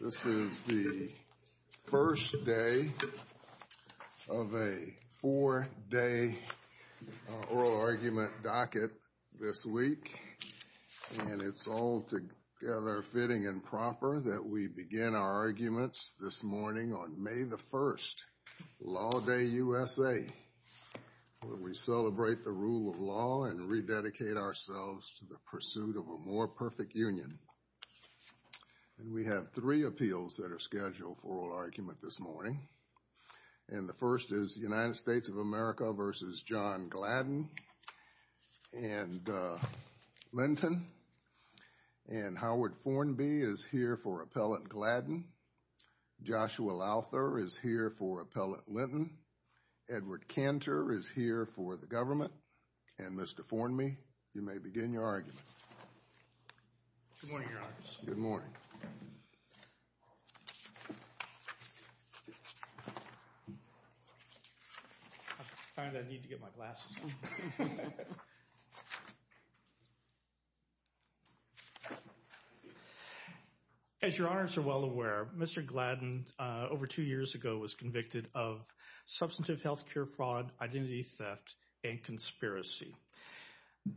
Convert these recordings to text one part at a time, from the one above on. This is the first day of a four-day oral argument docket this week, and it's altogether fitting and proper that we begin our arguments this morning on May 1, Law Day USA, where we celebrate the rule of law and rededicate ourselves to the pursuit of a more perfect union. We have three appeals that are scheduled for oral argument this morning, and the first is United States of America v. John Gladden and Linton, and Howard Fornby is here for Appellate Gladden, Joshua Lowther is here for Appellate Linton, Edward Cantor is here for the government, and Mr. Fornby, you may begin your argument. Edward Cantor Good morning, Your Honors. John Gladden Good morning. Edward Cantor I need to get my glasses on. As Your Honors are well aware, Mr. Gladden, over two years ago, was convicted of substantive health care fraud, identity theft, and conspiracy.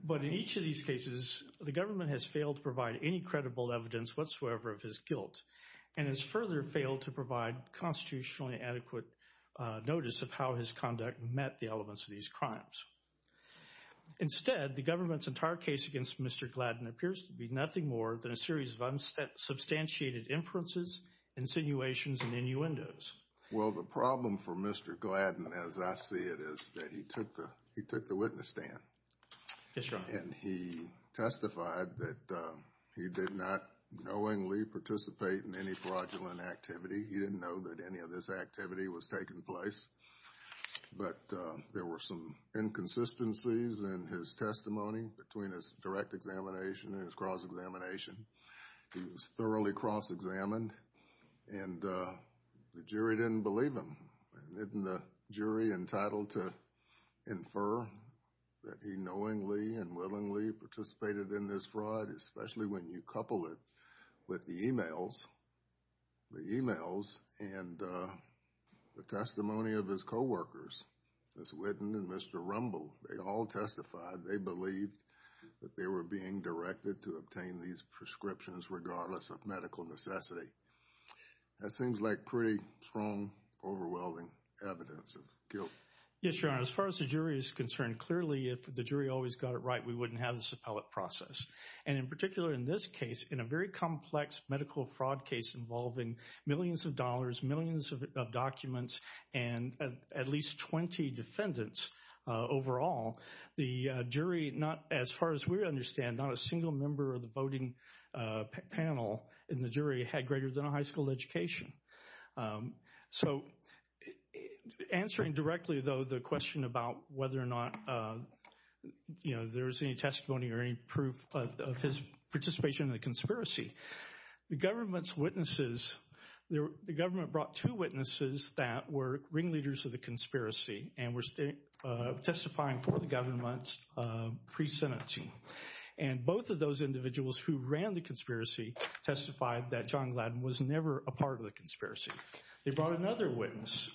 But in each of these cases, the government has failed to provide any credible evidence whatsoever of his guilt, and has further failed to provide constitutionally adequate notice of how his conduct met the elements of these crimes. Instead, the government's entire case against Mr. Gladden appears to be nothing more than a series of substantiated inferences, insinuations, and innuendos. Well, the problem for Mr. Gladden, as I see it, is that he took the witness stand, and he testified that he did not knowingly participate in any fraudulent activity. He didn't know that any of this activity was taking place, but there were some inconsistencies in his testimony between his direct examination and his cross-examination. He was thoroughly cross-examined, and the jury didn't believe him. Isn't the jury entitled to infer that he knowingly and willingly participated in this fraud, especially when you couple it with the emails, the emails and the testimony of his co-workers, Mr. Whitten and Mr. Rumble. They all testified, they believed that they were being directed to obtain these prescriptions regardless of medical necessity. That seems like pretty strong, overwhelming evidence of guilt. Yes, Your Honor. As far as the jury is concerned, clearly, if the jury always got it right, we wouldn't have this appellate process. And in particular, in this case, in a very complex medical fraud case involving millions of dollars, millions of documents, and at least 20 defendants overall, the jury, not as far as we understand, not a single member of the voting panel in the jury had greater than a high school education. So answering directly, though, the question about whether or not, you know, there was any testimony or any proof of his participation in the conspiracy. The government's witnesses, the government brought two witnesses that were ringleaders of the conspiracy and were testifying for the government pre-sentencing. And both of those individuals who ran the conspiracy testified that John Gladden was never a part of the conspiracy. They brought another witness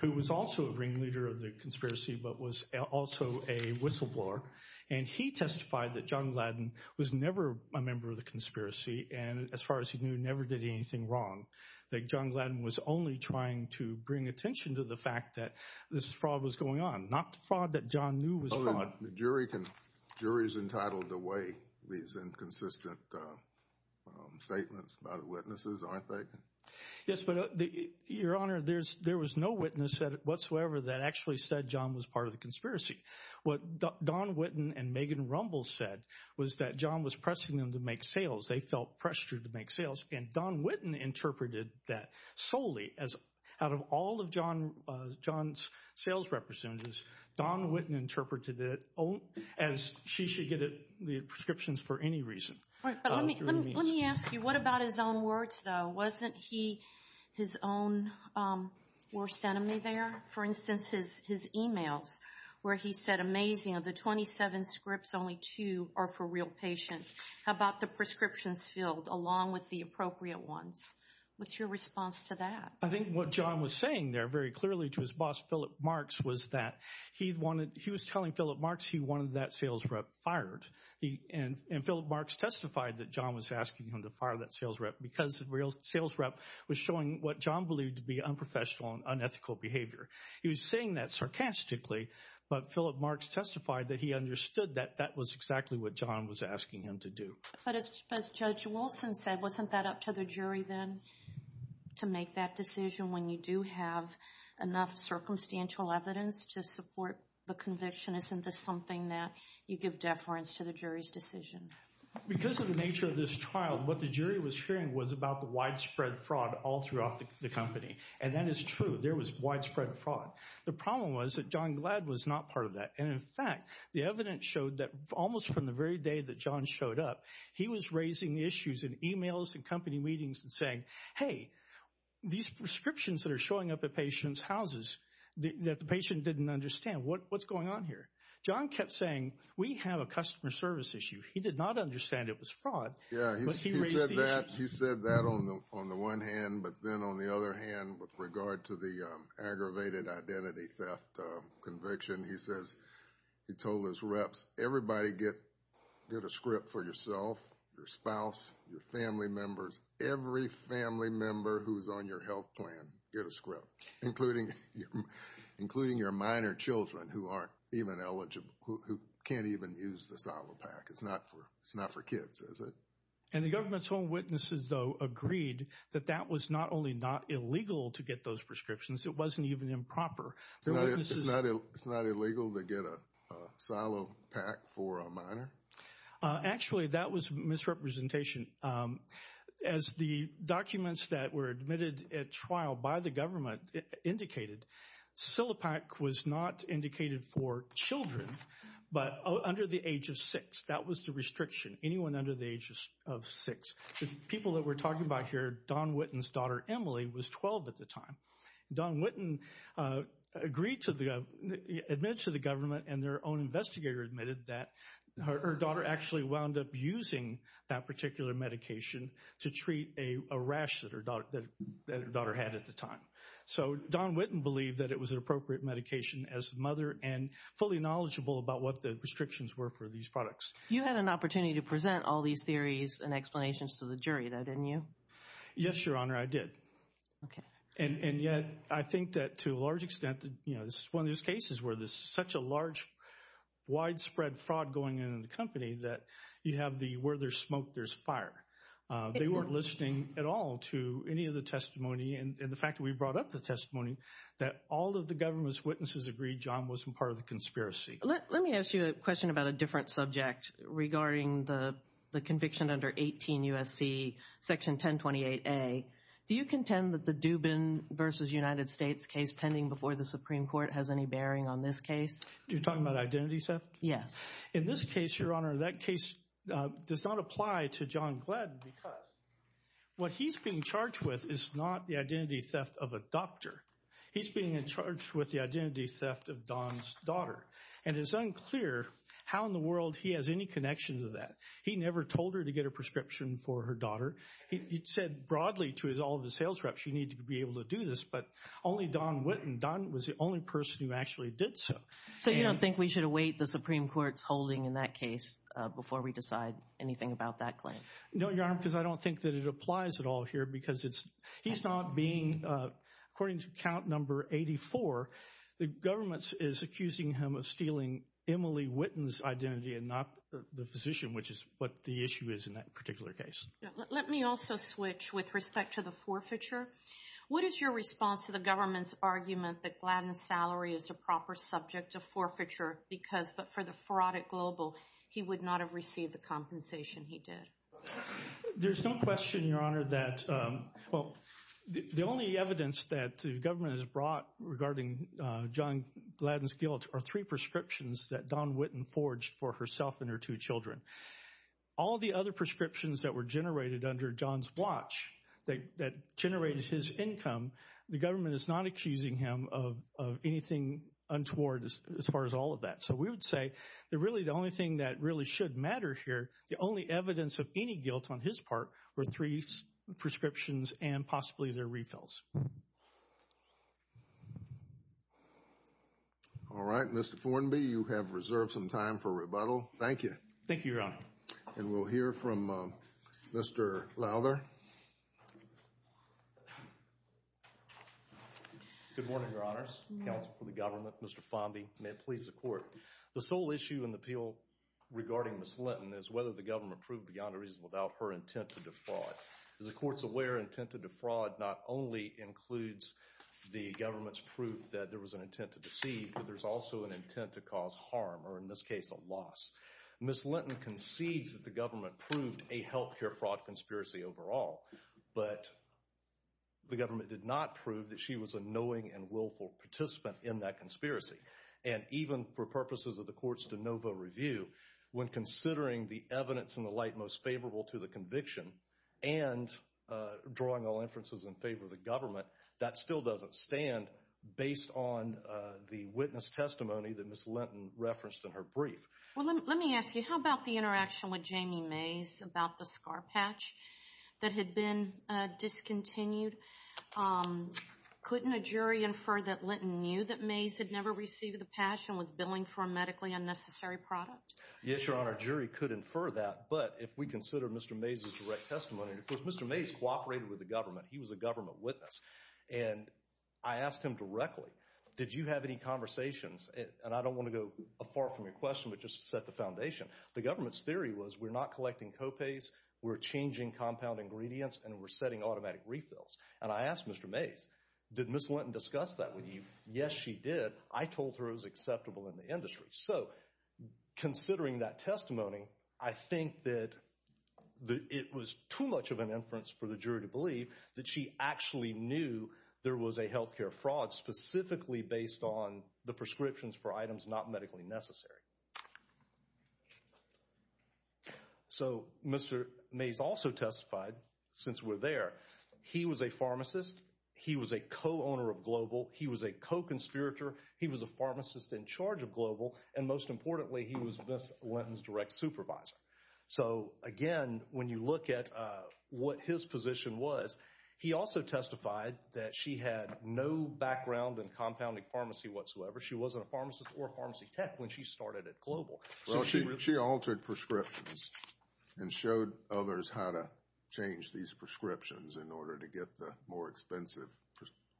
who was also a ringleader of the conspiracy but was also a whistleblower, and he testified that John Gladden was never a member of the conspiracy and, as far as he knew, never did anything wrong, that John Gladden was only trying to bring attention to the fact that this fraud was going on, not the fraud that John knew was fraud. The jury's entitled to weigh these inconsistent statements by the witnesses, aren't they? Yes, but Your Honor, there was no witness whatsoever that actually said John was part of the conspiracy. What Don Witton and Megan Rumbles said was that John was pressing them to make sales. They felt pressured to make sales, and Don Witton interpreted that solely as, out of all of John's sales representatives, Don Witton interpreted it as she should get the prescriptions for any reason. Right, but let me ask you, what about his own words, though? Wasn't he his own worst enemy there? For instance, his emails, where he said, amazing, of the 27 scripts, only two are for real patients. How about the prescriptions field, along with the appropriate ones? What's your response to that? I think what John was saying there very clearly to his boss, Philip Marks, was that he was telling Philip Marks he wanted that sales rep fired, and Philip Marks testified that John was asking him to fire that sales rep because the sales rep was showing what John He was saying that sarcastically, but Philip Marks testified that he understood that that was exactly what John was asking him to do. But as Judge Wilson said, wasn't that up to the jury then to make that decision when you do have enough circumstantial evidence to support the conviction? Isn't this something that you give deference to the jury's decision? Because of the nature of this trial, what the jury was hearing was about the widespread fraud all throughout the company, and that is true. There was widespread fraud. The problem was that John Glad was not part of that, and in fact, the evidence showed that almost from the very day that John showed up, he was raising issues in emails and company meetings and saying, hey, these prescriptions that are showing up at patients' houses, that the patient didn't understand, what's going on here? John kept saying, we have a customer service issue. He said that on the one hand, but then on the other hand, with regard to the aggravated identity theft conviction, he says, he told his reps, everybody get a script for yourself, your spouse, your family members, every family member who's on your health plan, get a script, including your minor children who aren't even eligible, who can't even use the SILOPAC. It's not for kids, is it? And the government's home witnesses, though, agreed that that was not only not illegal to get those prescriptions, it wasn't even improper. It's not illegal to get a SILOPAC for a minor? Actually, that was misrepresentation. As the documents that were admitted at trial by the government indicated, SILOPAC was not indicated for children, but under the age of six. That was the restriction, anyone under the age of six. People that we're talking about here, Dawn Whitten's daughter, Emily, was 12 at the time. Dawn Whitten admitted to the government and their own investigator admitted that her daughter actually wound up using that particular medication to treat a rash that her daughter had at the time. So Dawn Whitten believed that it was an appropriate medication as a mother and fully knowledgeable about what the restrictions were for these products. You had an opportunity to present all these theories and explanations to the jury, though, didn't you? Yes, Your Honor, I did. And yet, I think that to a large extent, this is one of those cases where there's such a large widespread fraud going on in the company that you have the where there's smoke, there's fire. They weren't listening at all to any of the testimony and the fact that we brought up the testimony that all of the government's witnesses agreed John wasn't part of the conspiracy. Let me ask you a question about a different subject regarding the conviction under 18 U.S.C. Section 1028A. Do you contend that the Dubin v. United States case pending before the Supreme Court has any bearing on this case? You're talking about identity theft? Yes. In this case, Your Honor, that case does not apply to John Gladden because what he's being charged with is not the identity theft of a doctor. He's being in charge with the identity theft of Don's daughter. And it's unclear how in the world he has any connection to that. He never told her to get a prescription for her daughter. He said broadly to all the sales reps, you need to be able to do this, but only Don Witten. Don was the only person who actually did so. So you don't think we should await the Supreme Court's holding in that case before we decide anything about that claim? No, Your Honor, because I don't think that it applies at all here because he's not being according to count number 84, the government is accusing him of stealing Emily Witten's identity and not the physician, which is what the issue is in that particular case. Let me also switch with respect to the forfeiture. What is your response to the government's argument that Gladden's salary is the proper subject of forfeiture because for the fraud at Global, he would not have received the compensation he did? There's no question, Your Honor, that the only evidence that the government has brought regarding John Gladden's guilt are three prescriptions that Don Witten forged for herself and her two children. All the other prescriptions that were generated under John's watch, that generated his income, the government is not accusing him of anything untoward as far as all of that. So we would say that really the only thing that really should matter here, the only evidence of any guilt on his part were three prescriptions and possibly their retails. All right, Mr. Fornby, you have reserved some time for rebuttal. Thank you. Thank you, Your Honor. And we'll hear from Mr. Lowther. Good morning, Your Honors. Counsel for the government, Mr. Fondy. May it please the Court. The sole issue in the appeal regarding Ms. Linton is whether the government proved beyond a reason without her intent to defraud. As the Court's aware, intent to defraud not only includes the government's proof that there was an intent to deceive, but there's also an intent to cause harm, or in this case, a loss. Ms. Linton concedes that the government proved a health care fraud conspiracy overall, but the government did not prove that she was a knowing and willful participant in that conspiracy. And even for purposes of the Court's de novo review, when considering the evidence in the light most favorable to the conviction and drawing all inferences in favor of the government, that still doesn't stand based on the witness testimony that Ms. Linton referenced in her brief. Well, let me ask you, how about the interaction with Jamie Mays about the scar patch that had been discontinued? Couldn't a jury infer that Linton knew that Mays had never received the patch and was billing for a medically unnecessary product? Yes, Your Honor, a jury could infer that, but if we consider Mr. Mays' direct testimony, because Mr. Mays cooperated with the government, he was a government witness, and I asked him directly, did you have any conversations, and I don't want to go far from your question, but just to set the foundation, the government's theory was we're not collecting co-pays, we're changing compound ingredients, and we're setting automatic refills. And I asked Mr. Mays, did Ms. Linton discuss that with you? Yes, she did. I told her it was acceptable in the industry. So considering that testimony, I think that it was too much of an inference for the jury to believe that she actually knew there was a health care fraud specifically based on the prescriptions for items not medically necessary. So Mr. Mays also testified, since we're there, he was a pharmacist, he was a co-owner of Global, he was a co-conspirator, he was a pharmacist in charge of Global, and most importantly, he was Ms. Linton's direct supervisor. So again, when you look at what his position was, he also testified that she had no background in compounding pharmacy whatsoever, she wasn't a pharmacist or a pharmacy tech when she started at Global. Well, she altered prescriptions and showed others how to change these prescriptions in order to get the more expensive,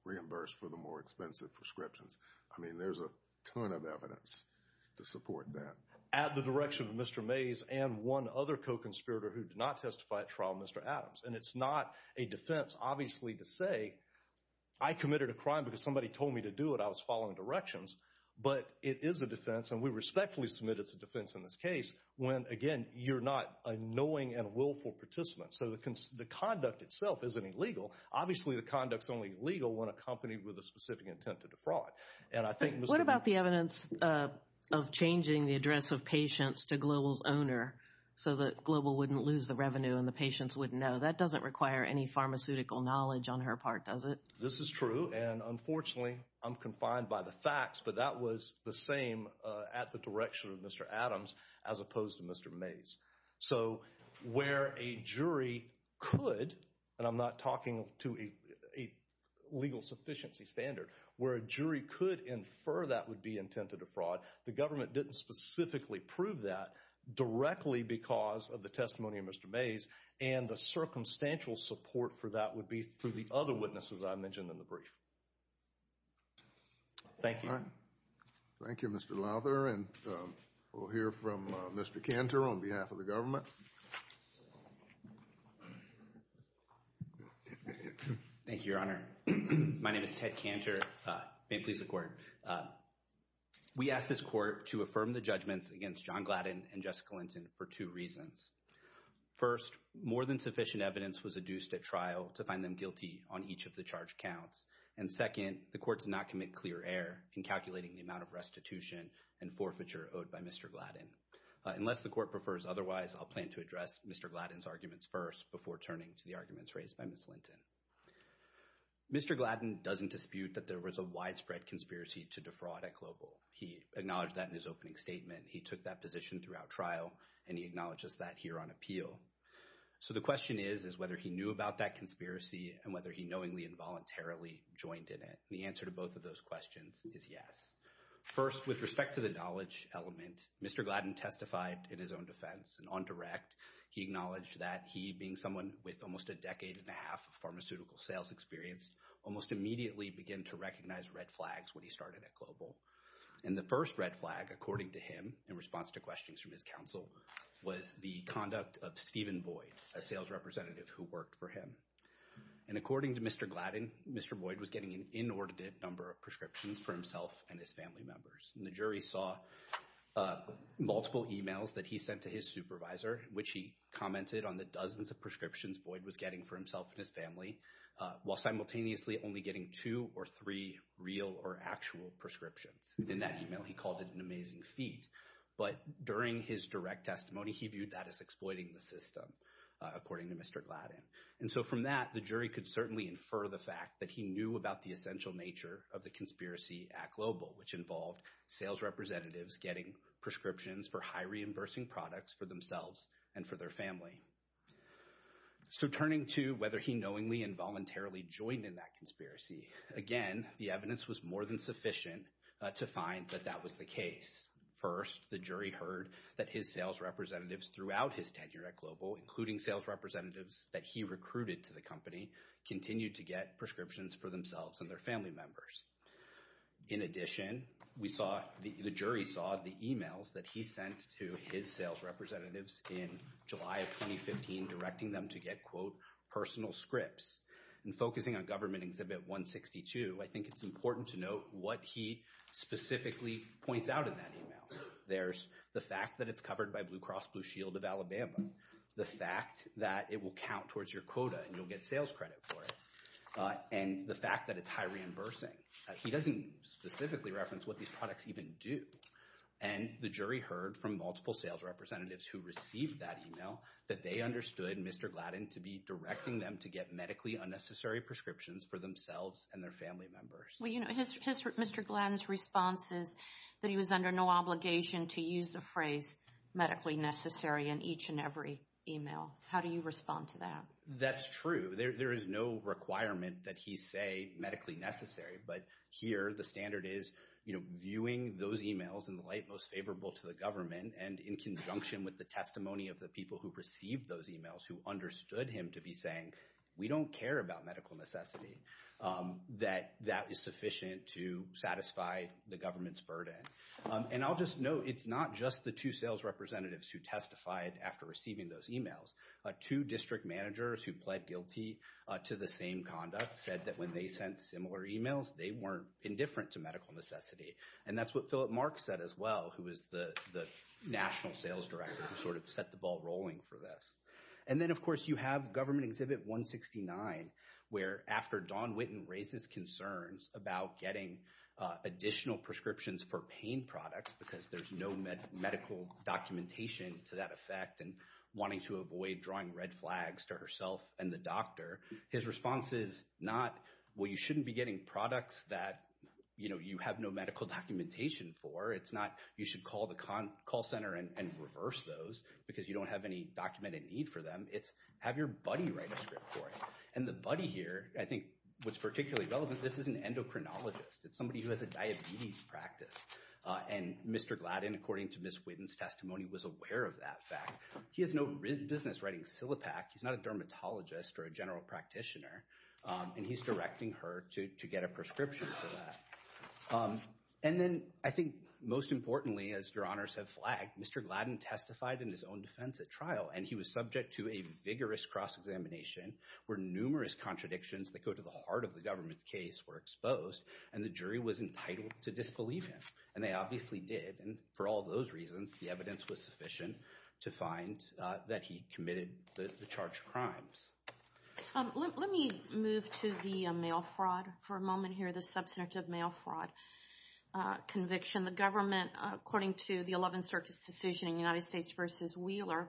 reimbursed for the more expensive prescriptions. I mean, there's a ton of evidence to support that. At the direction of Mr. Mays and one other co-conspirator who did not testify at trial, Mr. Adams, and it's not a defense, obviously, to say I committed a crime because somebody told me to do it, and I was following directions, but it is a defense, and we respectfully submit it's a defense in this case, when, again, you're not a knowing and willful participant. So the conduct itself isn't illegal. Obviously, the conduct's only legal when accompanied with a specific intent to defraud. What about the evidence of changing the address of patients to Global's owner so that Global wouldn't lose the revenue and the patients wouldn't know? That doesn't require any pharmaceutical knowledge on her part, does it? This is true, and unfortunately, I'm confined by the facts, but that was the same at the direction of Mr. Adams as opposed to Mr. Mays. So where a jury could, and I'm not talking to a legal sufficiency standard, where a jury could infer that would be intent to defraud, the government didn't specifically prove that directly because of the testimony of Mr. Mays, and the circumstantial support for that would be through the other witnesses I mentioned in the brief. Thank you. Thank you, Mr. Lather, and we'll hear from Mr. Cantor on behalf of the government. Thank you, Your Honor. My name is Ted Cantor. May it please the Court. We asked this Court to affirm the judgments against John Gladden and Jessica Linton for two reasons. First, more than sufficient evidence was adduced at trial to find them guilty on each of the charged counts, and second, the Court did not commit clear error in calculating the amount of restitution and forfeiture owed by Mr. Gladden. Unless the Court prefers otherwise, I'll plan to address Mr. Gladden's arguments first before turning to the arguments raised by Ms. Linton. Mr. Gladden doesn't dispute that there was a widespread conspiracy to defraud at Global. He acknowledged that in his opening statement. He took that position throughout trial, and he acknowledges that here on appeal. So the question is, is whether he knew about that conspiracy and whether he knowingly and voluntarily joined in it. And the answer to both of those questions is yes. First, with respect to the knowledge element, Mr. Gladden testified in his own defense. And on direct, he acknowledged that he, being someone with almost a decade and a half of pharmaceutical sales experience, almost immediately began to recognize red flags when he started at Global. And the first red flag, according to him, in response to questions from his counsel, was the conduct of Stephen Boyd, a sales representative who worked for him. And according to Mr. Gladden, Mr. Boyd was getting an inordinate number of prescriptions for himself and his family members. And the jury saw multiple emails that he sent to his supervisor, which he commented on the dozens of prescriptions Boyd was getting for himself and his family, while simultaneously only getting two or three real or actual prescriptions. In that email, he called it an amazing feat. But during his direct testimony, he viewed that as exploiting the system, according to Mr. Gladden. And so from that, the jury could certainly infer the fact that he knew about the essential nature of the conspiracy at Global, which involved sales representatives getting prescriptions for high-reimbursing products for themselves and for their family. So turning to whether he knowingly and voluntarily joined in that conspiracy, again, the evidence was more than sufficient to find that that was the case. First, the jury heard that his sales representatives throughout his tenure at Global, including sales representatives that he recruited to the company, continued to get prescriptions for themselves and their family members. In addition, the jury saw the emails that he sent to his sales representatives in July of 2015, directing them to get, quote, personal scripts. And focusing on Government Exhibit 162, I think it's important to note what he specifically points out in that email. There's the fact that it's covered by Blue Cross Blue Shield of Alabama, the fact that it will count towards your quota and you'll get sales credit for it, and the fact that it's high-reimbursing. He doesn't specifically reference what these products even do. And the jury heard from multiple sales representatives who received that email that they understood Mr. Gladden to be directing them to get medically unnecessary prescriptions for themselves and their family members. Well, you know, Mr. Gladden's response is that he was under no obligation to use the phrase medically necessary in each and every email. How do you respond to that? That's true. There is no requirement that he say medically necessary, but here the standard is, you know, viewing those emails in the light most favorable to the government and in conjunction with the testimony of the people who received those emails who understood him to be saying, we don't care about medical necessity, that that is sufficient to satisfy the government's burden. And I'll just note, it's not just the two sales representatives who testified after receiving those emails. Two district managers who pled guilty to the same conduct said that when they sent similar emails, they weren't indifferent to medical necessity. And that's what Philip Marks said as well, who is the national sales director, who sort of set the ball rolling for this. And then, of course, you have Government Exhibit 169, where after Don Witten raises concerns about getting additional prescriptions for pain products because there's no medical documentation to that effect and wanting to avoid drawing red flags to herself and the doctor, his response is not, well, you shouldn't be getting products that, you know, you have no medical documentation for. It's not you should call the call center and reverse those because you don't have any documented need for them. It's have your buddy write a script for you. And the buddy here, I think what's particularly relevant, this is an endocrinologist. It's somebody who has a diabetes practice. And Mr. Gladden, according to Ms. Witten's testimony, was aware of that fact. He has no business writing SILIPAC. He's not a dermatologist or a general practitioner, and he's directing her to get a prescription for that. And then I think most importantly, as your honors have flagged, Mr. Gladden testified in his own defense at trial, and he was subject to a vigorous cross-examination where numerous contradictions that go to the heart of the government's case were exposed, and the jury was entitled to disbelieve him. And they obviously did, and for all those reasons, the evidence was sufficient to find that he committed the charged crimes. Let me move to the mail fraud for a moment here, the substantive mail fraud conviction. The government, according to the 11th Circuit's decision in United States v. Wheeler,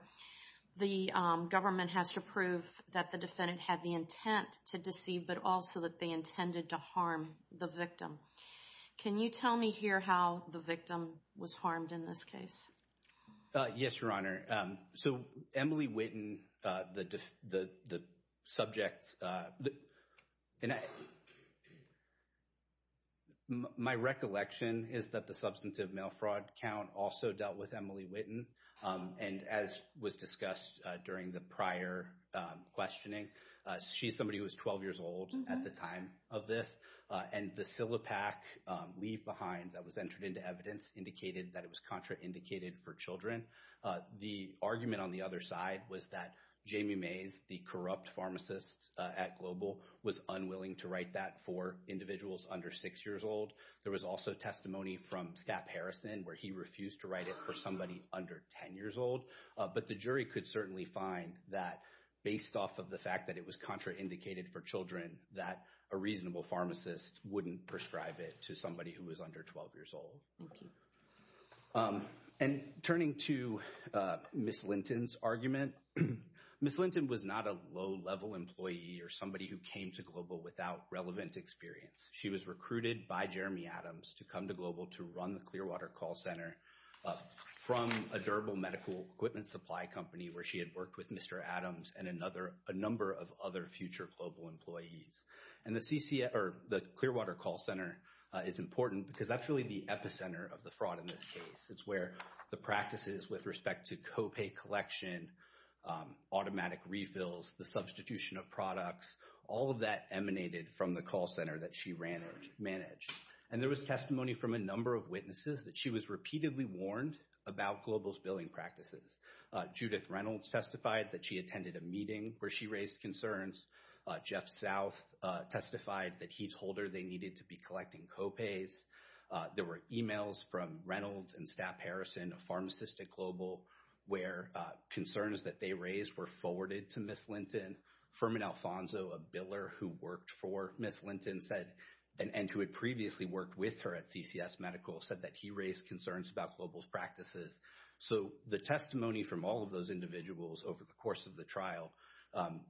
the government has to prove that the defendant had the intent to deceive, but also that they intended to harm the victim. Can you tell me here how the victim was harmed in this case? Yes, your honor. So Emily Witten, the subject, my recollection is that the substantive mail fraud count also dealt with Emily Witten, and as was discussed during the prior questioning, she's somebody who was 12 years old at the time of this, and the Silipac leave behind that was entered into evidence indicated that it was contraindicated for children. The argument on the other side was that Jamie Mays, the corrupt pharmacist at Global, was unwilling to write that for individuals under 6 years old. There was also testimony from Stapp Harrison where he refused to write it for somebody under 10 years old. But the jury could certainly find that based off of the fact that it was contraindicated for children, that a reasonable pharmacist wouldn't prescribe it to somebody who was under 12 years old. Thank you. And turning to Ms. Linton's argument, Ms. Linton was not a low-level employee or somebody who came to Global without relevant experience. She was recruited by Jeremy Adams to come to Global to run the Clearwater Call Center from a durable medical equipment supply company where she had worked with Mr. Adams and a number of other future Global employees. And the Clearwater Call Center is important because that's really the epicenter of the fraud in this case. It's where the practices with respect to copay collection, automatic refills, the substitution of products, all of that emanated from the call center that she managed. And there was testimony from a number of witnesses that she was repeatedly warned about Global's billing practices. Judith Reynolds testified that she attended a meeting where she raised concerns. Jeff South testified that he told her they needed to be collecting copays. There were emails from Reynolds and Stapp Harrison, a pharmacist at Global, where concerns that they raised were forwarded to Ms. Linton. Furman Alfonso, a biller who worked for Ms. Linton and who had previously worked with her at CCS Medical, said that he raised concerns about Global's practices. So the testimony from all of those individuals over the course of the trial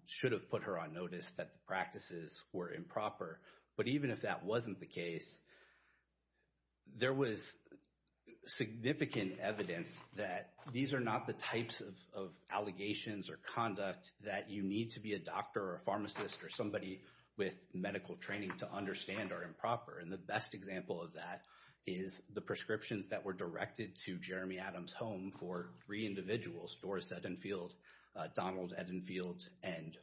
should have put her on notice that the practices were improper. But even if that wasn't the case, there was significant evidence that these are not the types of allegations or conduct that you need to be a doctor or a pharmacist or somebody with medical training to understand are improper. And the best example of that is the prescriptions that were directed to Jeremy Adams' home for three individuals, Doris Edenfield, Donald Edenfield, and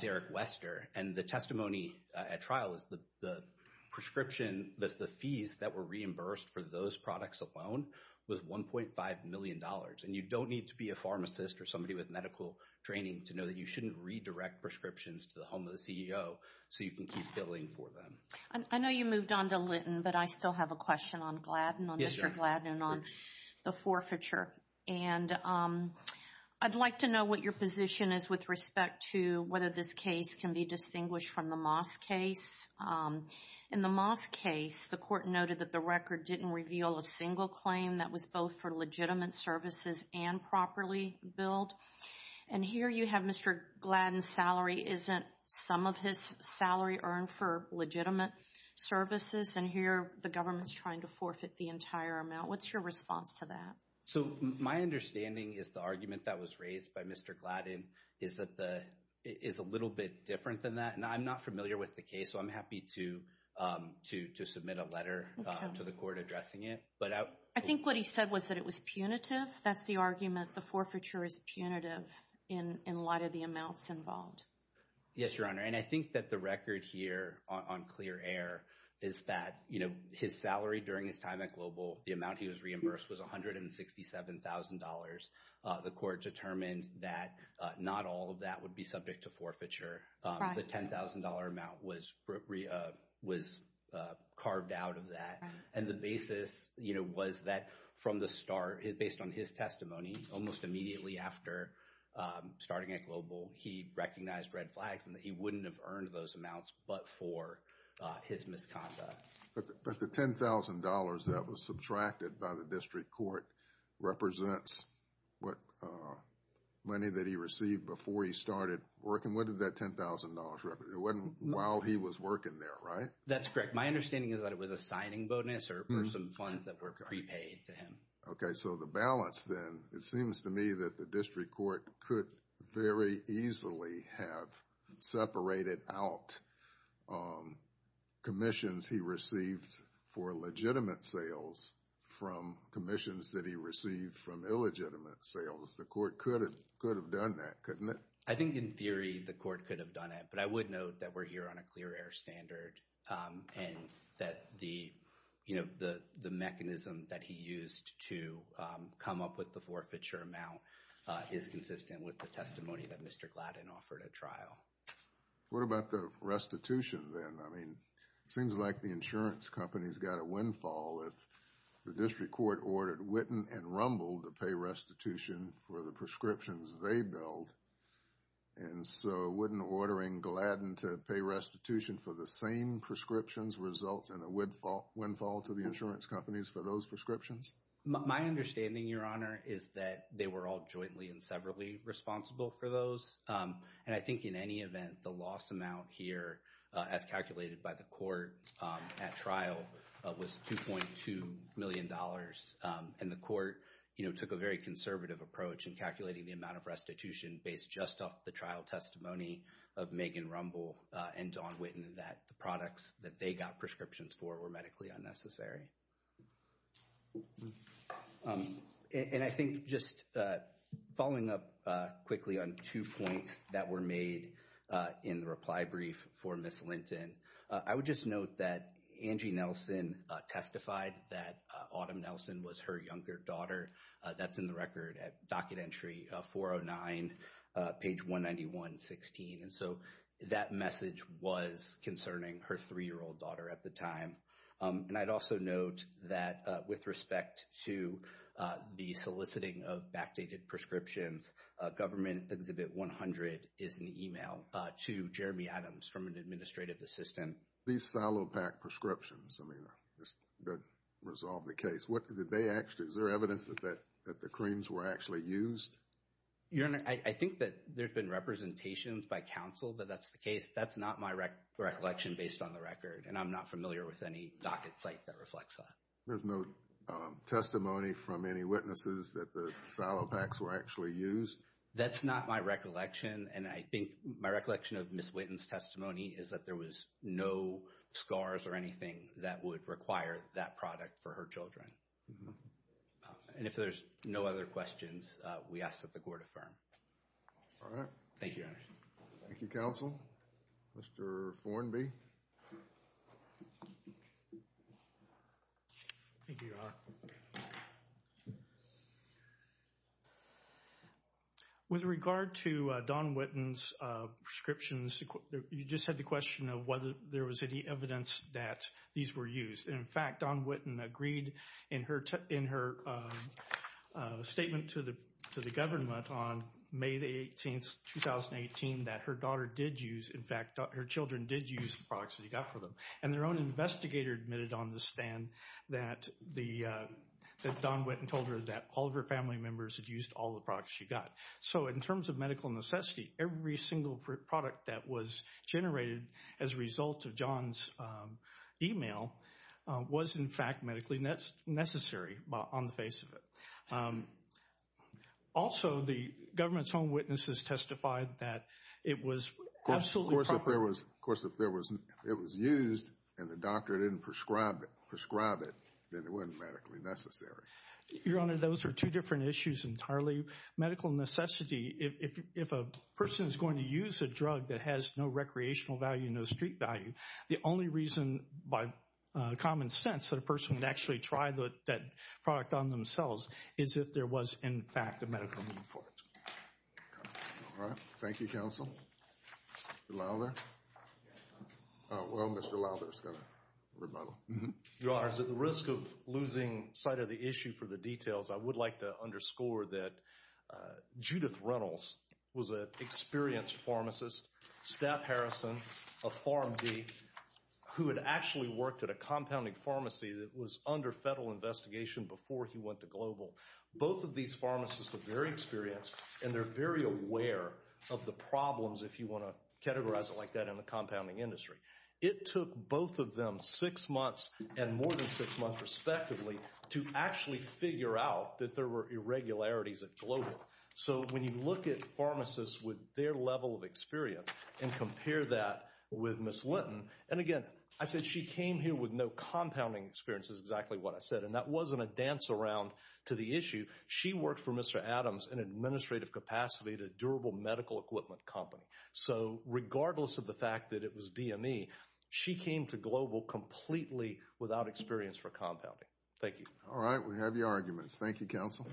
Derek Wester. And the testimony at trial is that the prescription, that the fees that were reimbursed for those products alone was $1.5 million. And you don't need to be a pharmacist or somebody with medical training to know that you shouldn't redirect prescriptions to the home of the CEO so you can keep billing for them. I know you moved on to Linton, but I still have a question on Gladden, on Mr. Gladden, on the forfeiture. And I'd like to know what your position is with respect to whether this case can be distinguished from the Moss case. In the Moss case, the court noted that the record didn't reveal a single claim that was both for legitimate services and properly billed. And here you have Mr. Gladden's salary isn't some of his salary earned for legitimate services, and here the government's trying to forfeit the entire amount. What's your response to that? So my understanding is the argument that was raised by Mr. Gladden is that it's a little bit different than that. And I'm not familiar with the case, so I'm happy to submit a letter to the court addressing it. I think what he said was that it was punitive. That's the argument, the forfeiture is punitive in a lot of the amounts involved. Yes, Your Honor, and I think that the record here on clear air is that his salary during his time at Global, the amount he was reimbursed was $167,000. The court determined that not all of that would be subject to forfeiture. The $10,000 amount was carved out of that. And the basis was that from the start, based on his testimony, almost immediately after starting at Global, he recognized red flags and that he wouldn't have earned those amounts but for his misconduct. But the $10,000 that was subtracted by the district court represents what money that he received before he started working. What did that $10,000 represent? It wasn't while he was working there, right? That's correct. My understanding is that it was a signing bonus or some funds that were prepaid to him. Okay, so the balance then. It seems to me that the district court could very easily have separated out commissions he received for legitimate sales from commissions that he received from illegitimate sales. The court could have done that, couldn't it? I think in theory the court could have done it, but I would note that we're here on a clear air standard and that the mechanism that he used to come up with the forfeiture amount is consistent with the testimony that Mr. Gladden offered at trial. What about the restitution then? I mean, it seems like the insurance company's got a windfall. The district court ordered Witten and Rumble to pay restitution for the prescriptions they billed. And so Witten ordering Gladden to pay restitution for the same prescriptions results in a windfall to the insurance companies for those prescriptions? My understanding, Your Honor, is that they were all jointly and severally responsible for those. And I think in any event, the loss amount here, as calculated by the court at trial, was $2.2 million. And the court took a very conservative approach in calculating the amount of restitution based just off the trial testimony of Megan Rumble and Dawn Witten that the products that they got prescriptions for were medically unnecessary. And I think just following up quickly on two points that were made in the reply brief for Ms. Linton, I would just note that Angie Nelson testified that Autumn Nelson was her younger daughter. That's in the record at docket entry 409, page 191.16. And so that message was concerning her three-year-old daughter at the time. And I'd also note that with respect to the soliciting of backdated prescriptions, Government Exhibit 100 is an email to Jeremy Adams from an administrative assistant. These silo pack prescriptions, I mean, that resolved the case. What did they actually, is there evidence that the creams were actually used? Your Honor, I think that there's been representations by counsel that that's the case. That's not my recollection based on the record. And I'm not familiar with any docket site that reflects that. There's no testimony from any witnesses that the silo packs were actually used? That's not my recollection. And I think my recollection of Ms. Witten's testimony is that there was no scars or anything that would require that product for her children. And if there's no other questions, we ask that the Court affirm. All right. Thank you, Your Honor. Thank you, counsel. Mr. Fornby. Thank you, Your Honor. With regard to Dawn Witten's prescriptions, you just had the question of whether there was any evidence that these were used. And in fact, Dawn Witten agreed in her statement to the government on May 18, 2018, that her daughter did use, in fact, her children did use the products that he got for them. And their own investigator admitted on the stand that Dawn Witten told her that all of her family members had used all the products she got. So, in terms of medical necessity, every single product that was generated as a result of John's email was, in fact, medically necessary on the face of it. Also, the government's own witnesses testified that it was absolutely proper. Now, if there was, of course, if it was used and the doctor didn't prescribe it, then it wasn't medically necessary. Your Honor, those are two different issues entirely. Medical necessity, if a person is going to use a drug that has no recreational value, no street value, the only reason, by common sense, that a person would actually try that product on themselves is if there was, in fact, a medical need for it. All right. Thank you, counsel. Mr. Lowther? Well, Mr. Lowther's going to rebuttal. Your Honor, at the risk of losing sight of the issue for the details, I would like to underscore that Judith Reynolds was an experienced pharmacist, Steph Harrison, a PharmD, who had actually worked at a compounding pharmacy that was under federal investigation before he went to global. Both of these pharmacists were very experienced, and they're very aware of the problems, if you want to categorize it like that, in the compounding industry. It took both of them six months and more than six months, respectively, to actually figure out that there were irregularities at global. So when you look at pharmacists with their level of experience and compare that with Ms. Linton, and again, I said she came here with no compounding experience is exactly what I said, and that wasn't a dance around to the issue. She worked for Mr. Adams in administrative capacity at a durable medical equipment company. So regardless of the fact that it was DME, she came to global completely without experience for compounding. Thank you. All right, we have your arguments. Thank you, counsel.